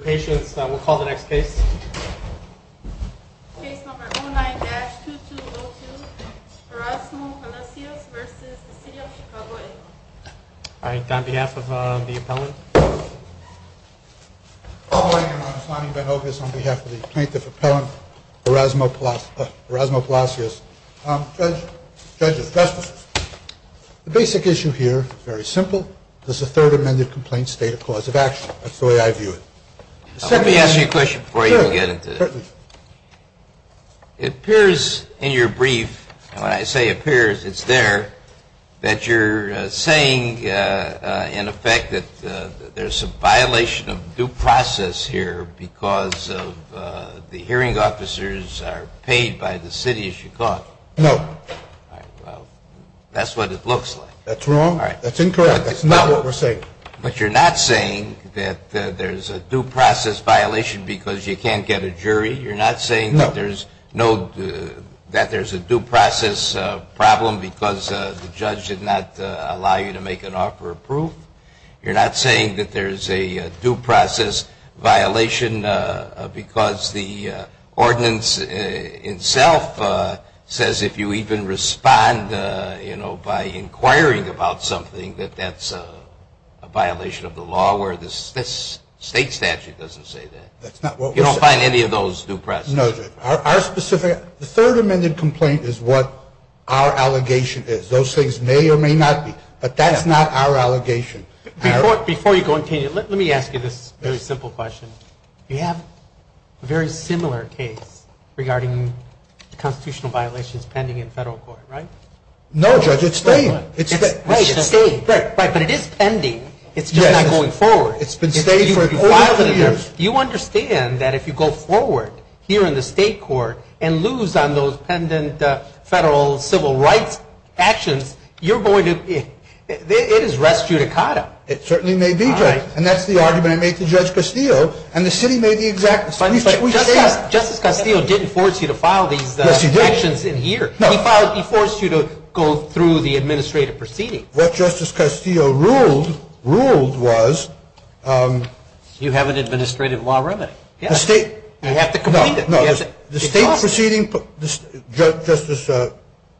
Patients, we'll call the next case. Case number 09-2202, Erasmo Palacios v. City of Chicago, Inglewood. All right, on behalf of the appellant. Good morning, I'm Sonny Benogas on behalf of the plaintiff's appellant, Erasmo Palacios. Judge, the judge is justice. The basic issue here is very simple. Does the third amended complaint state a cause of action? That's the way I view it. Let me ask you a question before you get into it. Certainly. It appears in your brief, when I say appears, it's there, that you're saying, in effect, that there's a violation of due process here because of the hearing officers are paid by the City of Chicago. No. All right, well, that's what it looks like. That's wrong. All right. That's incorrect. That's not what we're saying. But you're not saying that there's a due process violation because you can't get a jury? You're not saying that there's a due process problem because the judge did not allow you to make an offer of proof? You're not saying that there's a due process violation because the ordinance itself says, if you even respond by inquiring about something, that that's a violation of the law, where this state statute doesn't say that? That's not what we're saying. You don't find any of those due process? No, Judge. The third amended complaint is what our allegation is. Those things may or may not be. But that's not our allegation. Before you go and continue, let me ask you this very simple question. You have a very similar case regarding constitutional violations pending in federal court, right? No, Judge. It's the same. Right, it's the same. Right, but it is pending. It's just not going forward. It's been staying for over two years. You understand that if you go forward here in the state court and lose on those pending federal civil rights actions, you're going to be, it is res judicata. It certainly may be, Judge. And that's the argument I made to Judge Castillo. And the city made the exact same. Justice Castillo didn't force you to file these actions in here. No. He forced you to go through the administrative proceeding. What Justice Castillo ruled was. You have an administrative law remedy. The state. You have to complete it. The state proceeding, Justice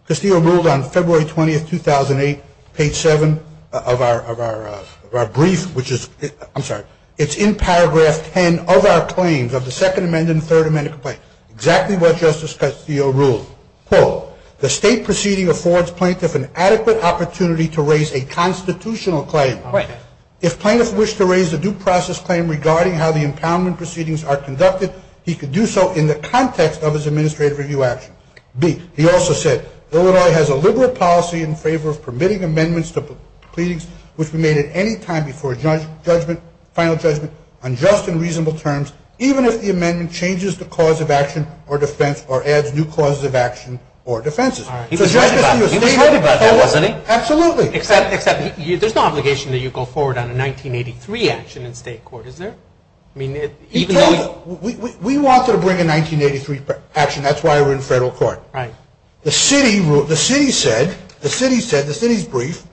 Castillo ruled on February 20th, 2008, page seven of our brief, which is, I'm sorry, it's in paragraph 10 of our claims of the second amendment and third amendment complaint. Exactly what Justice Castillo ruled. Quote, the state proceeding affords plaintiff an adequate opportunity to raise a constitutional claim. Right. If plaintiffs wish to raise a due process claim regarding how the impoundment proceedings are conducted, he could do so in the context of his administrative review action. B, he also said, Illinois has a liberal policy in favor of permitting amendments to proceedings which were made at any time before a judgment, final judgment, on just and reasonable terms, even if the amendment changes the cause of action or defense or adds new causes of action or defenses. He was right about that, wasn't he? Absolutely. Except there's no obligation that you go forward on a 1983 action in state court, is there? I mean, even though. We wanted to bring a 1983 action. That's why we're in federal court. Right. The city said, the city's brief,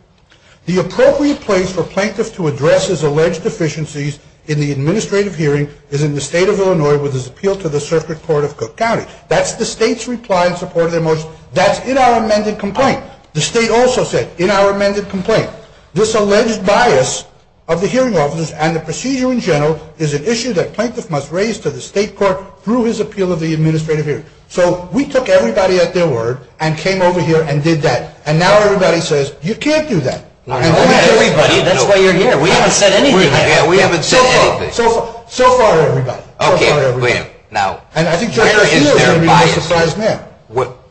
the appropriate place for plaintiff to address his alleged deficiencies in the administrative hearing is in the state of Illinois with his appeal to the circuit court of Cook County. That's the state's reply in support of their motion. That's in our amended complaint. The state also said, in our amended complaint, this alleged bias of the hearing officers and the procedure in general is an issue that plaintiff must raise to the state court through his appeal of the administrative hearing. So we took everybody at their word and came over here and did that. And now everybody says, you can't do that. Not everybody. That's why you're here. We haven't said anything yet. We haven't said anything. So far, everybody. OK. Now, where is their bias?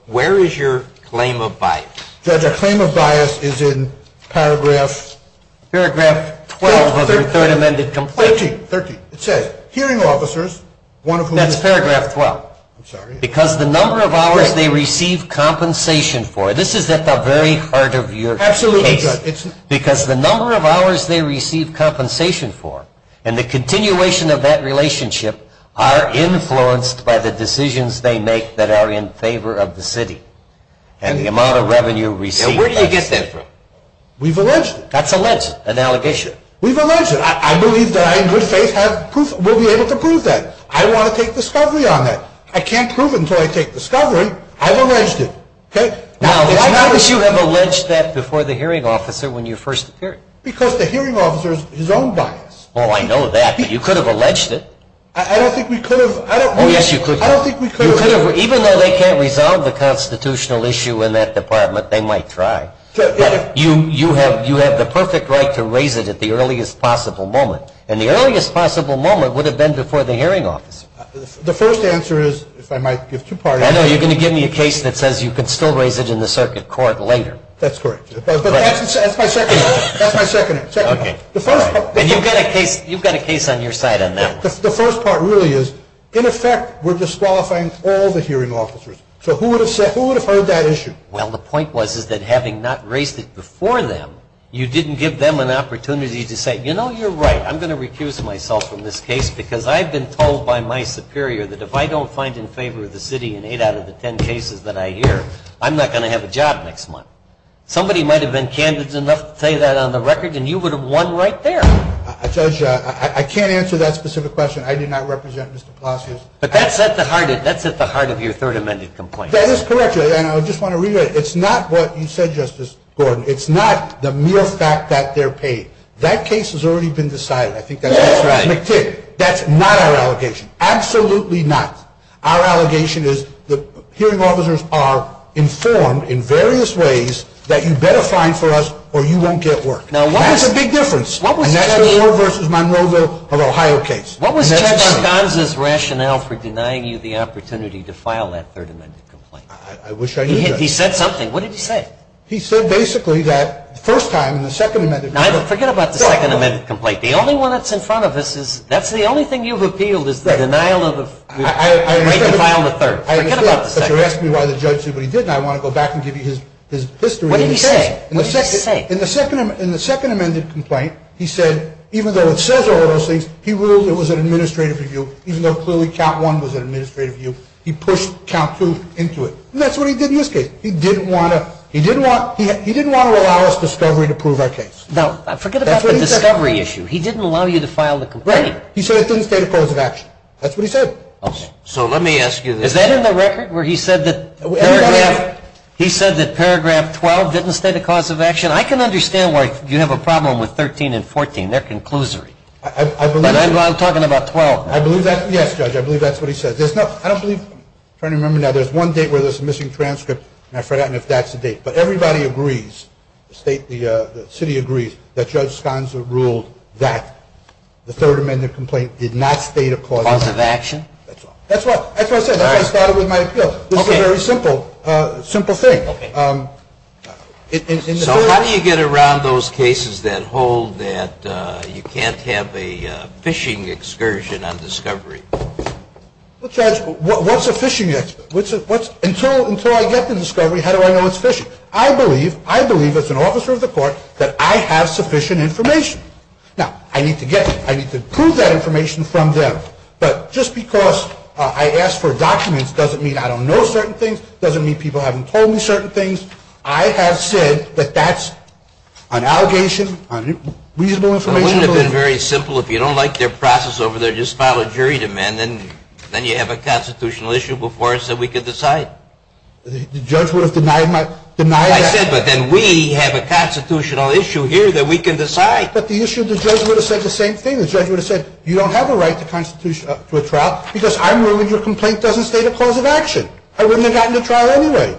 Where is your claim of bias? Judge, our claim of bias is in paragraph? Paragraph 12 of the third amended complaint. 13. It says, hearing officers, one of whom is- That's paragraph 12. I'm sorry. Because the number of hours they receive compensation for- This is at the very heart of your case. Absolutely, Judge. Because the number of hours they receive compensation for and the continuation of that relationship are influenced by the decisions they make that are in favor of the city. And the amount of revenue received- Now, where do you get that from? We've alleged it. That's alleged. An allegation. We've alleged it. I believe that I, in good faith, will be able to prove that. I want to take discovery on that. I can't prove it until I take discovery. I've alleged it. OK? Now, why don't you have alleged that before the hearing officer when you first appeared? Because the hearing officer's his own bias. Oh, I know that. But you could have alleged it. I don't think we could have. Oh, yes, you could have. I don't think we could have. Even though they can't resolve the constitutional issue in that department, they might try. You have the perfect right to raise it at the earliest possible moment. And the earliest possible moment would have been before the hearing officer. The first answer is, if I might give two parts- I know. You're going to give me a case that says you can still raise it in the circuit court later. That's correct. But that's my second point. That's my second point. The first- And you've got a case on your side on that one. The first part really is, in effect, we're disqualifying all the hearing officers. So who would have heard that issue? Well, the point was is that having not raised it before them, you didn't give them an opportunity to say, You know, you're right. I'm going to recuse myself from this case because I've been told by my superior that if I don't find in favor of the city in eight out of the ten cases that I hear, I'm not going to have a job next month. Somebody might have been candid enough to say that on the record, and you would have won right there. Judge, I can't answer that specific question. I did not represent Mr. Palacios. But that's at the heart of your third amended complaint. That is correct. And I just want to reiterate, it's not what you said, Justice Gordon. It's not the mere fact that they're paid. That case has already been decided. That's not our allegation. Absolutely not. Our allegation is the hearing officers are informed in various ways that you better find for us or you won't get work. Now, that's a big difference. And that's the Moore v. Monrovia of Ohio case. What was Chuck Argonza's rationale for denying you the opportunity to file that third amended complaint? I wish I knew that. He said something. What did he say? He said basically that the first time in the second amended complaint. Now, forget about the second amended complaint. The only one that's in front of us is, that's the only thing you've appealed is the denial of the right to file the third. I understand, but you're asking me why the judge did what he did, and I want to go back and give you his history. What did he say? In the second amended complaint, he said even though it says all of those things, he ruled it was an administrative review. Even though clearly count one was an administrative review, he pushed count two into it. And that's what he did in this case. He didn't want to allow us discovery to prove our case. Now, forget about the discovery issue. He didn't allow you to file the complaint. He said it didn't state a cause of action. That's what he said. So, let me ask you. Is that in the record where he said that paragraph 12 didn't state a cause of action? I can understand why you have a problem with 13 and 14. They're conclusory. I believe that. I'm talking about 12. I believe that. Yes, judge. I believe that's what he said. I don't believe. I'm trying to remember now. There's one date where there's a missing transcript, and I forgot if that's the date. But everybody agrees, the city agrees, that Judge Sconza ruled that the third amended complaint did not state a cause of action. Cause of action? That's what I said. That's why I started with my appeal. This is a very simple thing. So, how do you get around those cases that hold that you can't have a fishing excursion on discovery? Well, Judge, what's a fishing excursion? Until I get the discovery, how do I know it's fishing? I believe, I believe as an officer of the court, that I have sufficient information. Now, I need to get that. I need to prove that information from them. But just because I asked for documents doesn't mean I don't know certain things, doesn't mean people haven't told me certain things. I have said that that's an allegation on reasonable information. It shouldn't have been very simple. If you don't like their process over there, just file a jury demand. Then you have a constitutional issue before us that we can decide. The judge would have denied that. I said, but then we have a constitutional issue here that we can decide. But the issue, the judge would have said the same thing. The judge would have said, you don't have a right to a trial because I'm ruling your complaint doesn't state a cause of action. I wouldn't have gotten to trial anyway.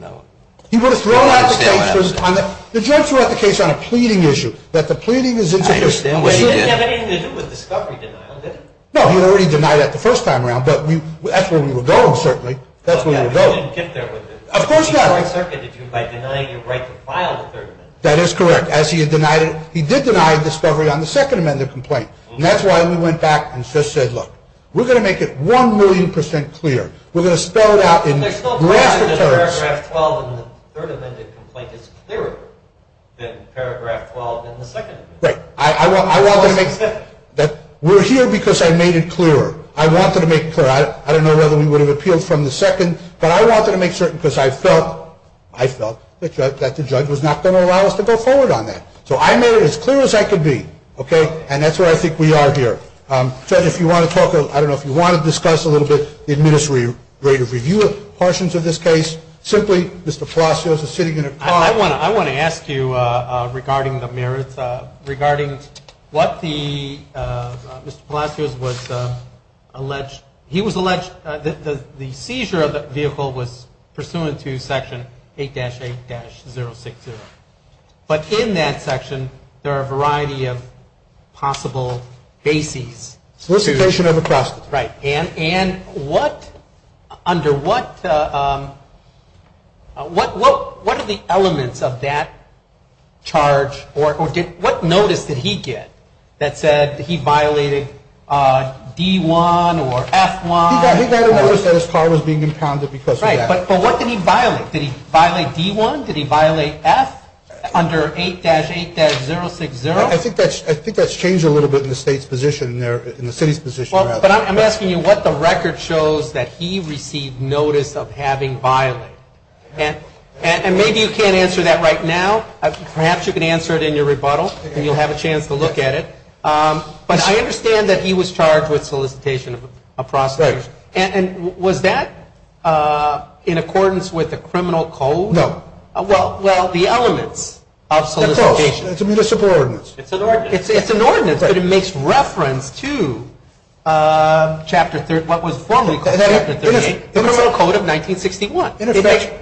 No. He would have thrown out the case. The judge threw out the case on a pleading issue. That the pleading is insufficient. I understand what he did. It didn't have anything to do with discovery denial, did it? No, he already denied that the first time around. But that's where we were going, certainly. That's where we were going. But you didn't get there with it. Of course not. He circuited you by denying your right to file the third amendment. That is correct. As he had denied it. He did deny discovery on the second amendment complaint. And that's why we went back and just said, look, we're going to make it one million percent clear. We're going to spell it out in raster terms. But paragraph 12 in the third amendment complaint is clearer than paragraph 12 in the second amendment. Right. We're here because I made it clearer. I wanted to make it clear. I don't know whether we would have appealed from the second. But I wanted to make certain because I felt that the judge was not going to allow us to go forward on that. So I made it as clear as I could be. And that's where I think we are here. So if you want to talk, I don't know if you want to discuss a little bit the administrative review portions of this case, simply Mr. Palacios is sitting in a car. I want to ask you regarding the merits, regarding what the, Mr. Palacios was alleged, he was alleged, the seizure of the vehicle was pursuant to section 8-8-060. But in that section, there are a variety of possible bases. Solicitation of a custody. Right. And what, under what, what are the elements of that charge? Or what notice did he get that said he violated D-1 or F-1? He got a notice that his car was being impounded because of that. Right. But what did he violate? Did he violate D-1? Did he violate F under 8-8-060? I think that's changed a little bit in the state's position there, in the city's position. But I'm asking you what the record shows that he received notice of having violated. And maybe you can't answer that right now. Perhaps you can answer it in your rebuttal and you'll have a chance to look at it. But I understand that he was charged with solicitation of a prostitution. Right. And was that in accordance with the criminal code? No. Well, the elements of solicitation. Of course. It's a municipal ordinance. It's an ordinance. It's an ordinance, but it makes reference to what was formally called Chapter 38, the criminal code of 1961. In effect,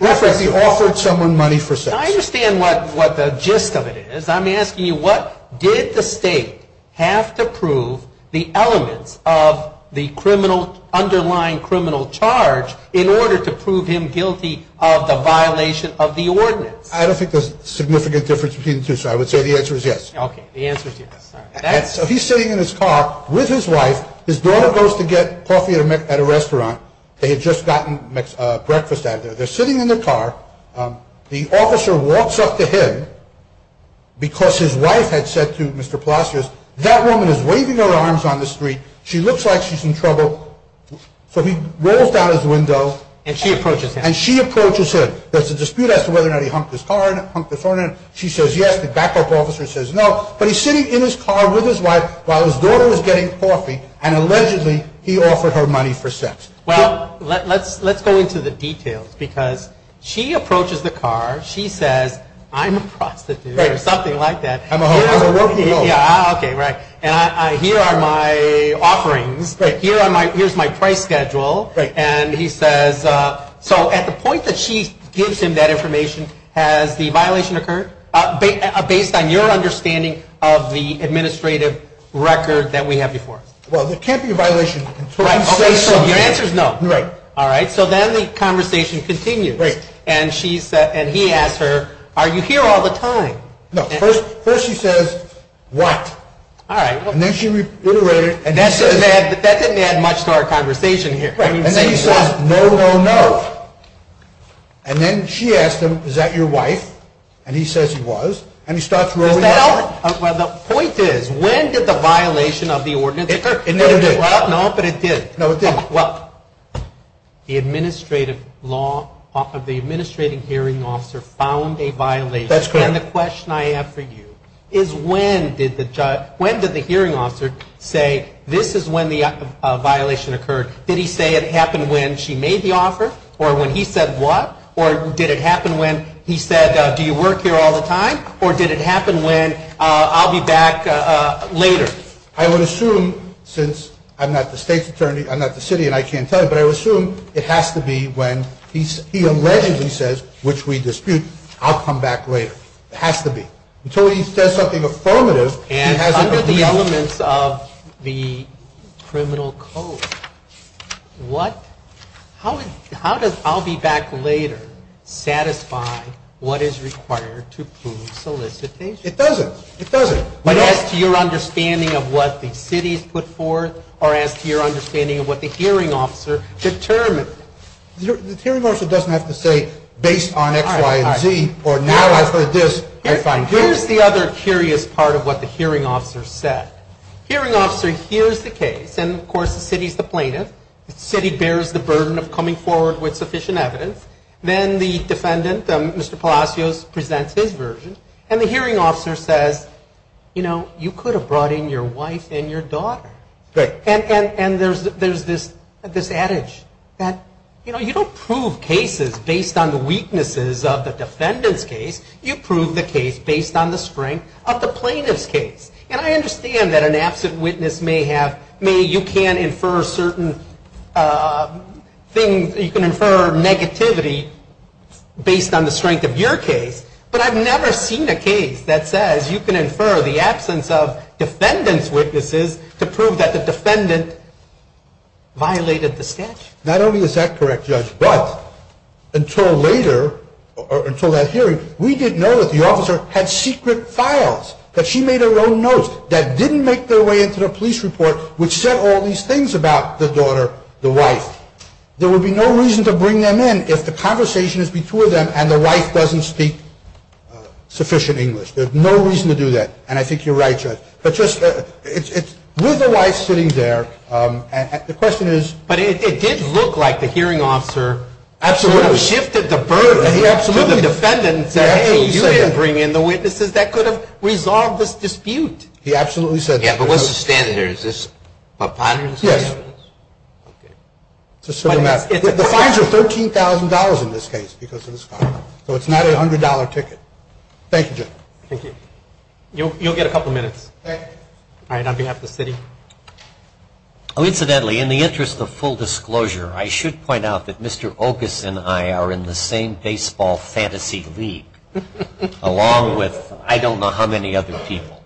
he offered someone money for sex. I understand what the gist of it is. I'm asking you what did the state have to prove the elements of the criminal, underlying criminal charge in order to prove him guilty of the violation of the ordinance? I don't think there's a significant difference between the two, so I would say the answer is yes. Okay. The answer is yes. He's sitting in his car with his wife. His daughter goes to get coffee at a restaurant. They had just gotten breakfast out of there. They're sitting in their car. The officer walks up to him because his wife had said to Mr. Plassius, that woman is waving her arms on the street. She looks like she's in trouble. So he rolls down his window. And she approaches him. And she approaches him. There's a dispute as to whether or not he humped his car or humped his horn. She says yes. The backup officer says no. But he's sitting in his car with his wife while his daughter was getting coffee, and allegedly he offered her money for sex. Well, let's go into the details because she approaches the car. She says, I'm a prostitute or something like that. I'm a whore. Okay, right. And here are my offerings. Here's my price schedule. And he says, so at the point that she gives him that information, has the violation occurred? Based on your understanding of the administrative record that we have before. Well, it can't be a violation until you say so. So your answer is no. Right. All right. So then the conversation continues. Right. And he asks her, are you here all the time? No. First she says, what? All right. And then she reiterated. And that didn't add much to our conversation here. Right. And then he says, no, no, no. And then she asked him, is that your wife? And he says he was. And he starts rolling out. Does that help? Well, the point is, when did the violation of the ordinance occur? It never did. Well, no, but it did. No, it didn't. Well, the administrative hearing officer found a violation. That's correct. And the question I have for you is, when did the hearing officer say, this is when the violation occurred? Did he say it happened when she made the offer or when he said what? Or did it happen when he said, do you work here all the time? Or did it happen when, I'll be back later? I would assume, since I'm not the state's attorney, I'm not the city and I can't tell you, but I would assume it has to be when he allegedly says, which we dispute, I'll come back later. It has to be. Until he says something affirmative, he hasn't agreed. And under the elements of the criminal code, what, how does I'll be back later satisfy what is required to prove solicitation? It doesn't. It doesn't. But as to your understanding of what the city's put forth, or as to your understanding of what the hearing officer determined. The hearing officer doesn't have to say, based on X, Y, and Z, or now I've heard this, I find this. Here's the other curious part of what the hearing officer said. Hearing officer hears the case, and of course the city's the plaintiff. The city bears the burden of coming forward with sufficient evidence. Then the defendant, Mr. Palacios, presents his version. And the hearing officer says, you know, you could have brought in your wife and your daughter. And there's this adage that, you know, you don't prove cases based on the weaknesses of the defendant's case. You prove the case based on the strength of the plaintiff's case. And I understand that an absent witness may have, may, you can infer certain things, you can infer negativity based on the strength of your case. But I've never seen a case that says you can infer the absence of defendant's witnesses to prove that the defendant violated the statute. Not only is that correct, Judge, but until later, or until that hearing, we didn't know that the officer had secret files that she made her own notes that didn't make their way into the police report, which said all these things about the daughter, the wife. There would be no reason to bring them in if the conversation is between them and the wife doesn't speak sufficient English. There's no reason to do that. And I think you're right, Judge. But just, with the wife sitting there, the question is... But it did look like the hearing officer... Absolutely. ...shifted the burden to the defendant and said, hey, you had to bring in the witnesses that could have resolved this dispute. He absolutely said that. Yeah, but what's the standard here? Is this preponderance? Yes. Okay. It's a simple matter. The fines are $13,000 in this case because of this file. So it's not a $100 ticket. Thank you, Judge. Thank you. You'll get a couple minutes. Thank you. All right. On behalf of the city. Oh, incidentally, in the interest of full disclosure, I should point out that Mr. Okas and I are in the same baseball fantasy league, along with I don't know how many other people.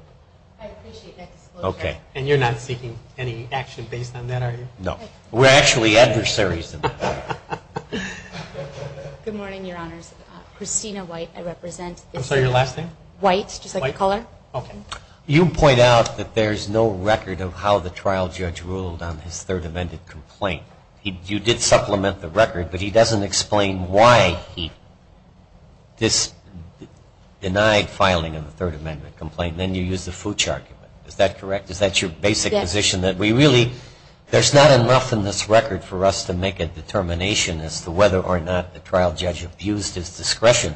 I appreciate that disclosure. Okay. And you're not seeking any action based on that, are you? No. We're actually adversaries. Good morning, Your Honors. Christina White, I represent the... I'm sorry, your last name? White, just like the color. White. Okay. You point out that there's no record of how the trial judge ruled on his Third Amendment complaint. You did supplement the record, but he doesn't explain why he denied filing on the Third Amendment complaint. Then you use the Fooch argument. Is that correct? Is that your basic position? Yes. That we really... There's not enough in this record for us to make a determination as to whether or not the trial judge abused his discretion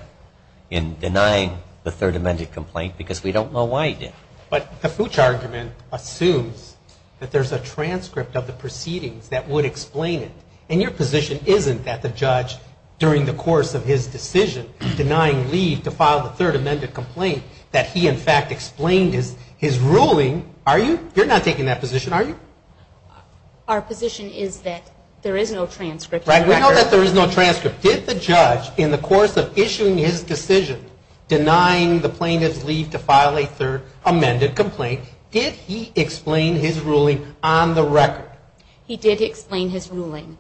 in denying the Third Amendment complaint because we don't know why he did. But the Fooch argument assumes that there's a transcript of the proceedings that would explain it. And your position isn't that the judge, during the course of his decision, denying leave to file the Third Amendment complaint, that he, in fact, explained his ruling. Are you? You're not taking that position, are you? Our position is that there is no transcript. Right. We know that there is no transcript. Did the judge, in the course of issuing his decision, denying the plaintiff's leave to file a Third Amendment complaint, did he explain his ruling on the record? He did explain his ruling.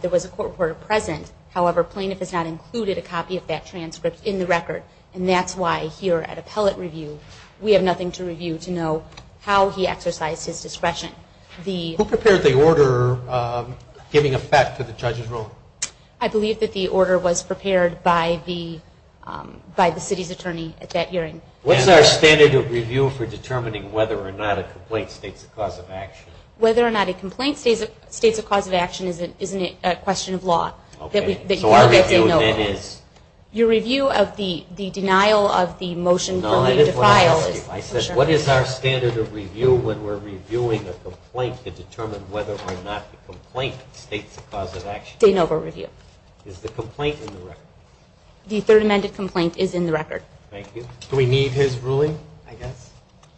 There was a court order present. However, plaintiff has not included a copy of that transcript in the record. And that's why, here at appellate review, we have nothing to review to know how he exercised his discretion. Who prepared the order giving effect to the judge's ruling? I believe that the order was prepared by the city's attorney at that hearing. What's our standard of review for determining whether or not a complaint states a cause of action? Whether or not a complaint states a cause of action isn't a question of law. So our review then is? Your review of the denial of the motion for leave to file is? No, that is what I asked you. I said, what is our standard of review when we're reviewing a complaint to determine whether or not the complaint states a cause of action? De novo review. Is the complaint in the record? The Third Amendment complaint is in the record. Thank you. Do we need his ruling, I guess?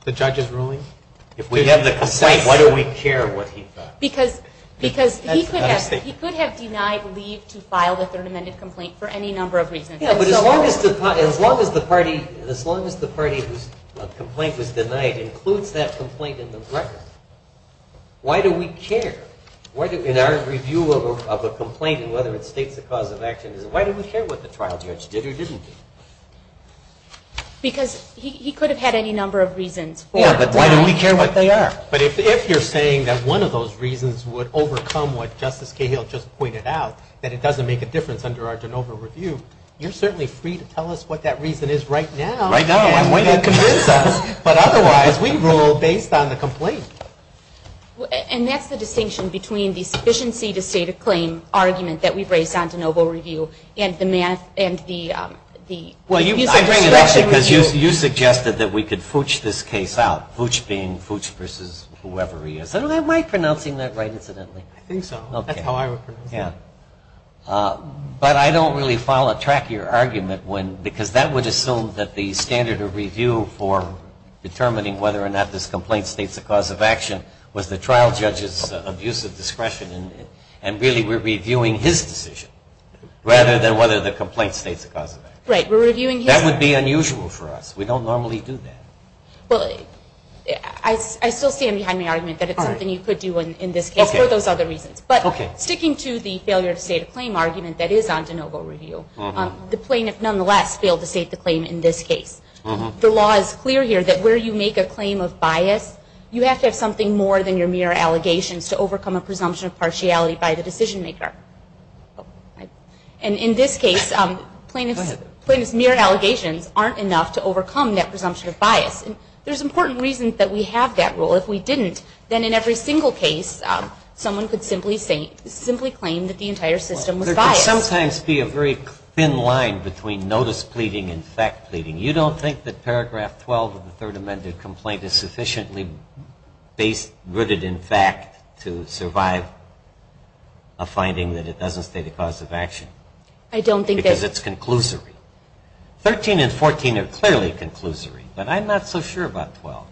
The judge's ruling? If we have the complaint, why do we care what he thought? Because he could have denied leave to file the Third Amendment complaint for any number of reasons. Yeah, but as long as the party whose complaint was denied includes that complaint in the record, why do we care? In our review of a complaint and whether it states a cause of action, why do we care what the trial judge did or didn't do? Because he could have had any number of reasons. Yeah, but why do we care what they are? But if you're saying that one of those reasons would overcome what Justice Cahill just pointed out, that it doesn't make a difference under our de novo review, you're certainly free to tell us what that reason is right now. Right now. And convince us. But otherwise, we rule based on the complaint. And that's the distinction between the sufficiency to state a claim argument that we've raised on de novo review and the math and the Well, I bring it up because you suggested that we could fooch this case out, fooch being fooch versus whoever he is. Am I pronouncing that right, incidentally? I think so. That's how I would pronounce it. But I don't really follow track of your argument because that would assume that the standard of review for determining whether or not this complaint states a cause of action was the trial judge's abuse of discretion and really we're reviewing his decision rather than whether the complaint states a cause of action. Right, we're reviewing his. That would be unusual for us. We don't normally do that. Well, I still stand behind my argument that it's something you could do in this case for those other reasons. But sticking to the failure to state a claim argument that is on de novo review, the plaintiff nonetheless failed to state the claim in this case. The law is clear here that where you make a claim of bias, you have to have something more than your mere allegations to overcome a presumption of partiality by the decision maker. And in this case, plaintiff's mere allegations aren't enough to overcome that presumption of bias. There's important reason that we have that rule. Well, if we didn't, then in every single case, someone could simply claim that the entire system was biased. There could sometimes be a very thin line between notice pleading and fact pleading. You don't think that paragraph 12 of the third amended complaint is sufficiently rooted in fact to survive a finding that it doesn't state a cause of action? I don't think that. Because it's conclusory. 13 and 14 are clearly conclusory. But I'm not so sure about 12.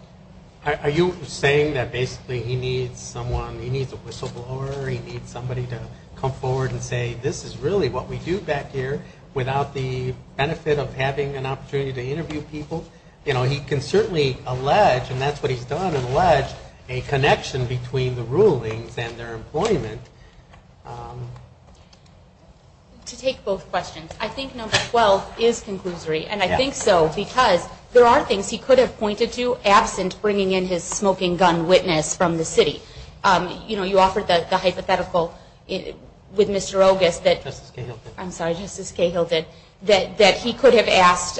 Are you saying that basically he needs someone, he needs a whistleblower, he needs somebody to come forward and say this is really what we do back here without the benefit of having an opportunity to interview people? He can certainly allege, and that's what he's done, allege a connection between the rulings and their employment. To take both questions, I think number 12 is conclusory. And I think so because there are things he could have pointed to absent bringing in his smoking gun witness from the city. You offered the hypothetical with Mr. Ogis that he could have asked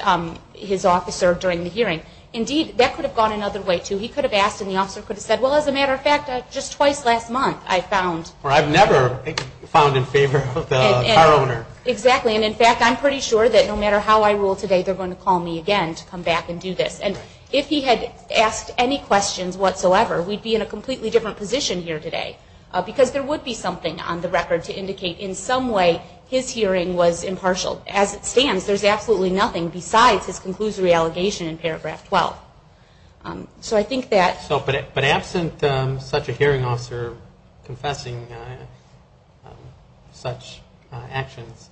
his officer during the hearing. Indeed, that could have gone another way, too. He could have asked and the officer could have said, well, as a matter of fact, just twice last month I found. Or I've never found in favor of the car owner. Exactly. And in fact, I'm pretty sure that no matter how I rule today, they're going to call me again to come back and do this. And if he had asked any questions whatsoever, we'd be in a completely different position here today. Because there would be something on the record to indicate in some way his hearing was impartial. As it stands, there's absolutely nothing besides his conclusory allegation in paragraph 12. But absent such a hearing officer confessing such actions,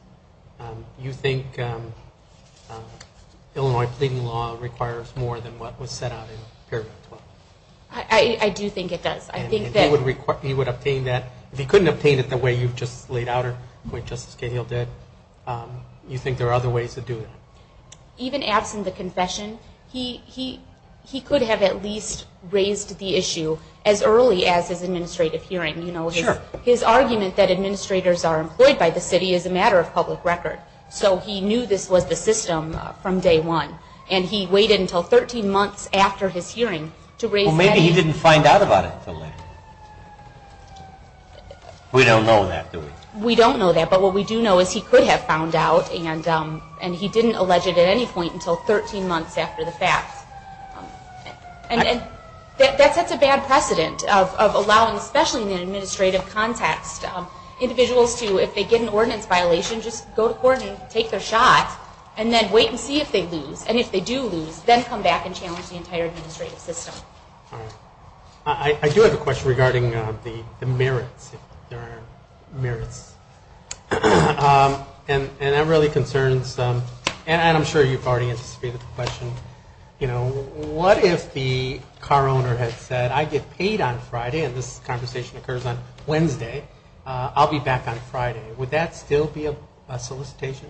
you think Illinois pleading law requires more than what was set out in paragraph 12? I do think it does. He would obtain that. If he couldn't obtain it the way you've just laid out or the way Justice Gahill did, you think there are other ways to do that? Even absent the confession, he could have at least raised the issue as early as his administrative hearing. His argument that administrators are employed by the city is a matter of public record. So he knew this was the system from day one. And he waited until 13 months after his hearing to raise that issue. Well, maybe he didn't find out about it until later. We don't know that, do we? We don't know that. But what we do know is he could have found out and he didn't allege it at any point until 13 months after the fact. And that sets a bad precedent of allowing, especially in an administrative context, individuals to, if they get an ordinance violation, just go to court and take their shot and then wait and see if they lose. And if they do lose, then come back and challenge the entire administrative system. I do have a question regarding the merits. And I'm sure you've already anticipated the question. What if the car owner had said, I get paid on Friday, and this conversation occurs on Wednesday, I'll be back on Friday. Would that still be a solicitation?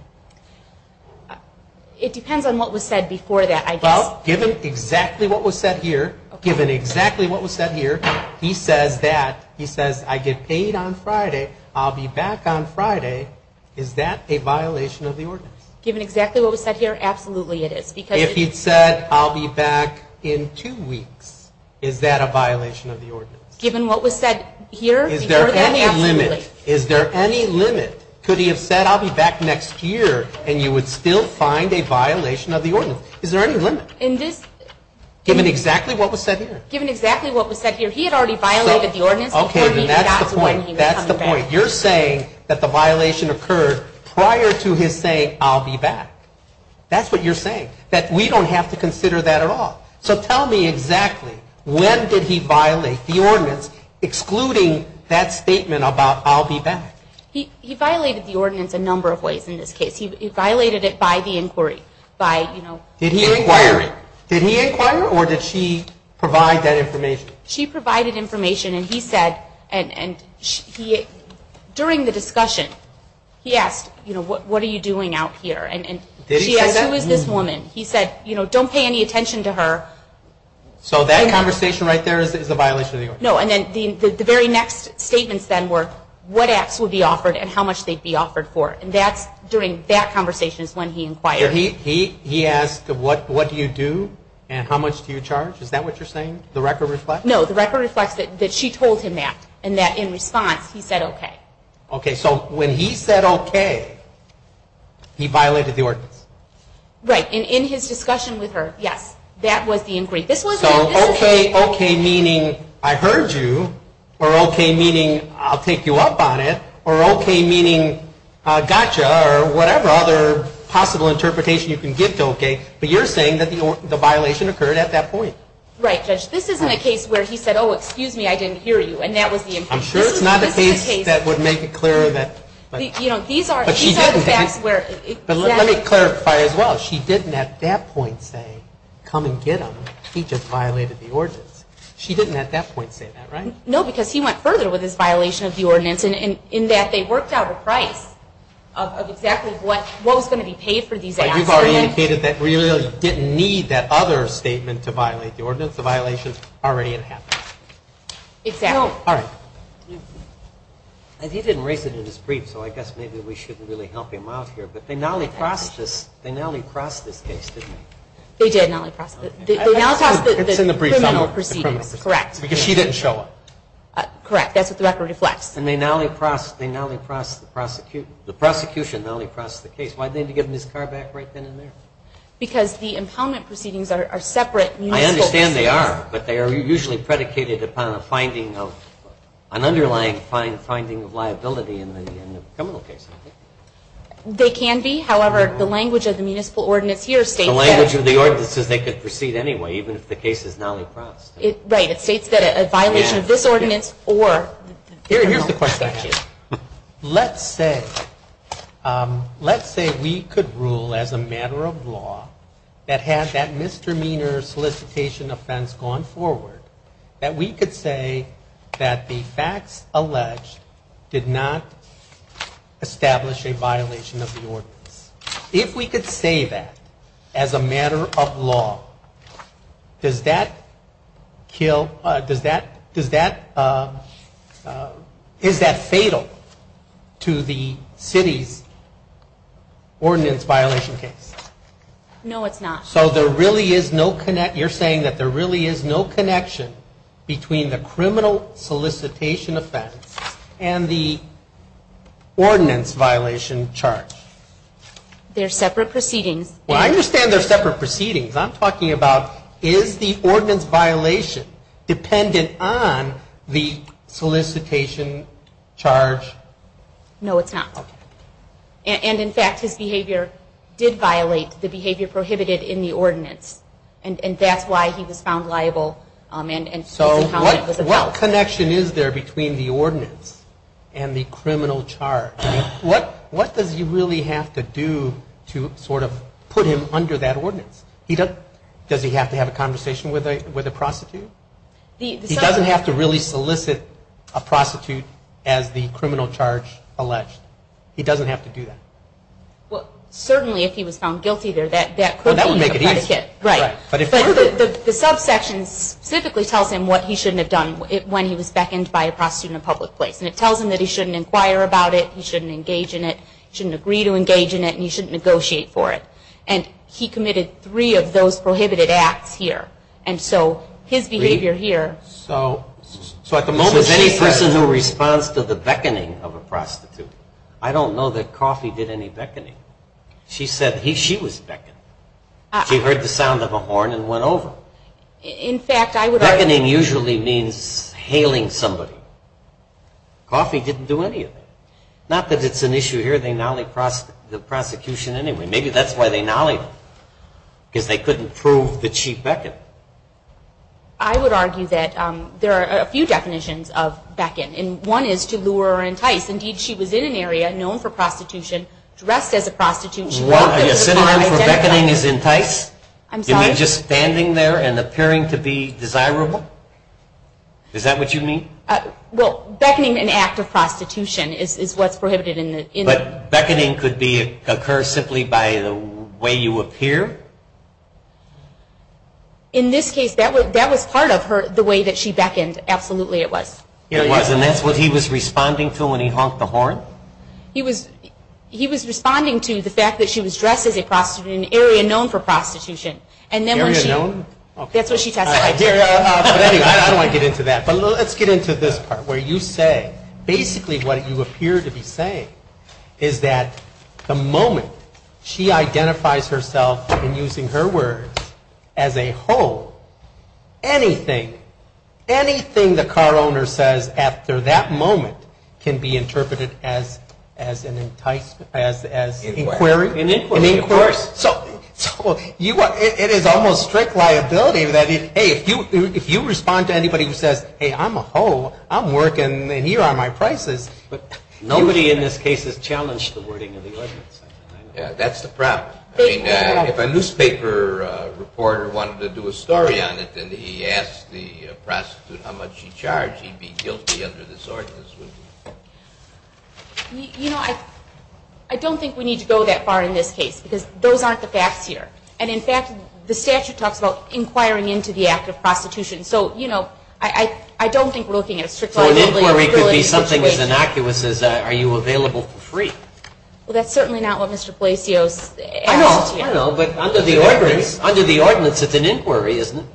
It depends on what was said before that. Well, given exactly what was said here, given exactly what was said here, he says that. He says, I get paid on Friday, I'll be back on Friday. Is that a violation of the ordinance? Given exactly what was said here, absolutely it is. If he'd said, I'll be back in two weeks, is that a violation of the ordinance? Given what was said here, absolutely. Is there any limit? Is there any limit? Could he have said, I'll be back next year, and you would still find a violation of the ordinance? Is there any limit? Given exactly what was said here. Given exactly what was said here. He had already violated the ordinance. That's the point. You're saying that the violation occurred prior to his saying, I'll be back. That's what you're saying. That we don't have to consider that at all. So tell me exactly, when did he violate the ordinance, excluding that statement about, I'll be back. He violated the ordinance a number of ways in this case. He violated it by the inquiry. Did he inquire it? Did he inquire it, or did she provide that information? She provided information, and he said, during the discussion, he asked, what are you doing out here? She asked, who is this woman? He said, don't pay any attention to her. So that conversation right there is a violation of the ordinance. The very next statements then were, what apps would be offered, and how much they'd be offered for. During that conversation is when he inquired. He asked, what do you do, and how much do you charge? Is that what you're saying? No, the record reflects that she told him that. And that in response, he said okay. So when he said okay, he violated the ordinance. Right, and in his discussion with her, yes, that was the inquiry. So okay, okay meaning, I heard you, or okay meaning, I'll take you up on it, or okay meaning, gotcha, or whatever other possible interpretation you can give to okay, but you're saying that the violation occurred at that point. Right, Judge. This isn't a case where he said, oh, excuse me, I didn't hear you, and that was the inquiry. I'm sure it's not a case that would make it clearer. But let me clarify as well. She didn't at that point say, come and get him, he just violated the ordinance. She didn't at that point say that, right? No, because he went further with his violation of the ordinance in that they worked out a price of exactly what was going to be paid for these apps. But you've already indicated that we really didn't need that other statement to violate the ordinance. The violation's already in effect. Exactly. All right. He didn't raise it in his brief, so I guess maybe we shouldn't really help him out here, but they nally-crossed this case, didn't they? They did nally-cross it. They nally-crossed the criminal proceedings. Correct. Because she didn't show up. Correct, that's what the record reflects. And they nally-crossed the prosecution. The prosecution nally-crossed the case. Why didn't they give him his car back right then and there? Because the impoundment proceedings are separate. I understand they are, but they are usually predicated upon a finding of an underlying finding of liability in the criminal case. They can be. However, the language of the municipal ordinance here states that... The language of the ordinance says they could proceed anyway, even if the case is nally-crossed. Right. It states that a violation of this ordinance or Here's the question. Let's say we could rule as a matter of law that had that misdemeanor solicitation offense gone forward that we could say that the facts alleged did not establish a violation of the ordinance. If we could say that as a matter of law does that kill does that is that fatal to the city's ordinance violation case? No, it's not. So you're saying that there really is no connection between the criminal solicitation offense and the ordinance violation charge? They're separate proceedings. Well, I understand they're separate proceedings. I'm talking about is the ordinance violation dependent on the solicitation charge? No, it's not. And in fact his behavior did violate the behavior prohibited in the ordinance. And that's why he was found liable So what connection is there between the ordinance and the criminal charge? What does he really have to do to sort of put him under that ordinance? Does he have to have a conversation with a prostitute? He doesn't have to really solicit a prostitute as the he doesn't have to do that. Well, certainly if he was found guilty that could be a predicate. But the subsection specifically tells him what he shouldn't have done when he was beckoned by a prostitute in a public place. And it tells him that he shouldn't inquire about it, he shouldn't engage in it, he shouldn't agree to engage in it, and he shouldn't negotiate for it. And he committed three of those prohibited acts here. And so his behavior here So at the moment any person who responds to the beckoning of a prostitute, I don't know that Coffey did any beckoning. She said she was beckoned. She heard the sound of a horn and went over. In fact, I would argue Beckoning usually means hailing somebody. Coffey didn't do any of that. Not that it's an issue here, they gnollied the prosecution anyway. Maybe that's why they gnollied him. Because they couldn't prove that she beckoned. I would argue that there are a few definitions of Is that what you mean? Well, beckoning an act of prostitution is what's prohibited in the But beckoning could occur simply by the way you appear? In this case that was part of her, the way that she beckoned, absolutely it was. I'm sorry, I'm sorry, I'm sorry, I'm sorry, I'm sorry, Did he honk the horn? He was responding to the fact that she was dressed as a prostitute in an area known for prostitution. That's what she testified to. But anyway, I don't want to get into that. But let's get into this part, where you say basically what you appear to be saying is that the moment she identifies herself, in using her words, as a whore, anything, anything the car owner says after that moment can be interpreted as an inquiry? An inquiry, of course. So it is almost strict liability that if you respond to anybody who says hey, I'm a whore, I'm working and here are my prices, Nobody in this case has challenged the wording of the ordinance. That's the problem. If a newspaper reporter wanted to do a story on it and he asked the prostitute how much she charged, he'd be guilty under this ordinance, wouldn't he? You know, I don't think we need to go that far in this case because those aren't the facts here. And in fact, the statute talks about inquiring into the act of prostitution. So, you know, I don't think we're looking at a strict liability situation. So an inquiry could be something as innocuous as are you available for free? Well, that's certainly not what Mr. Blasios asked here. I know, but under the ordinance it's an inquiry, isn't it?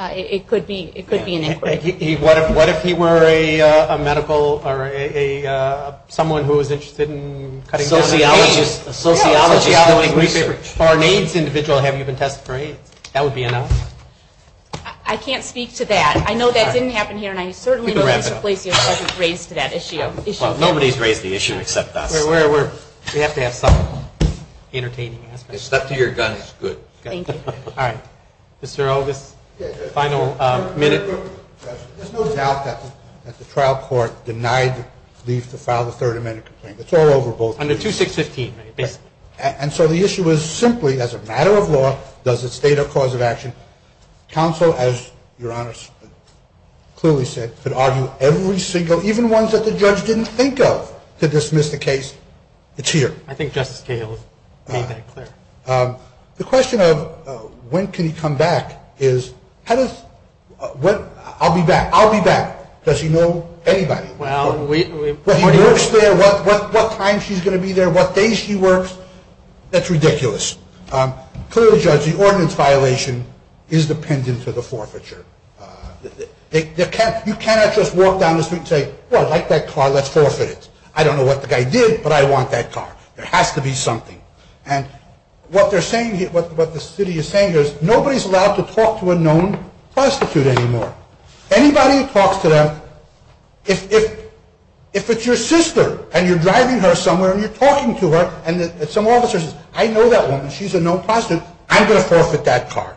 It could be an inquiry. What if he were a medical or a someone who was interested in cutting down on AIDS? A sociologist doing research. A foreign AIDS individual. Have you been tested for AIDS? That would be enough. I can't speak to that. I know that didn't happen here and I certainly know Mr. Blasios hasn't raised that issue. Nobody's raised the issue except us. We have to have some entertaining aspects. Step to your guns. Good. All right. Mr. August. Final minute. There's no doubt that the trial court denied the leave to file the Third Amendment complaint. It's all over. Under 2615. And so the issue is simply as a matter of law, does it state a cause of action? Counsel, as Your Honor clearly said, could argue every single even ones that the judge didn't think of to dismiss the case. It's here. I think Justice Cahill made that clear. The question of when can he come back is how does I'll be back. I'll be back. Does he know anybody? What time she's going to be there? What day she works? That's ridiculous. Clearly, Judge, the ordinance violation is dependent to the forfeiture. You cannot just walk down the street and say, I like that car. Let's forfeit it. I don't know what the guy did, but I want that car. There has to be something. What the city is saying is nobody is allowed to talk to a known prostitute anymore. Anybody who talks to them, if it's your sister and you're driving her somewhere and you're talking to her and some officer says, I know that woman. She's a known prostitute. I'm going to forfeit that car.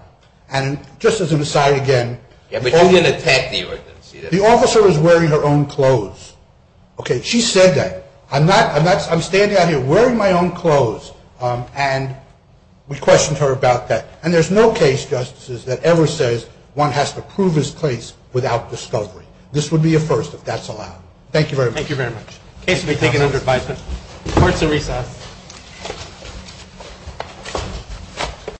And just as an aside again, the officer is wearing her own clothes. She said that. I'm standing out here wearing my own clothes and we questioned her about that. And there's no case, Justices, that ever says one has to prove his case without discovery. This would be a first if that's allowed. Thank you very much. The case will be taken under advisement. Court is in recess.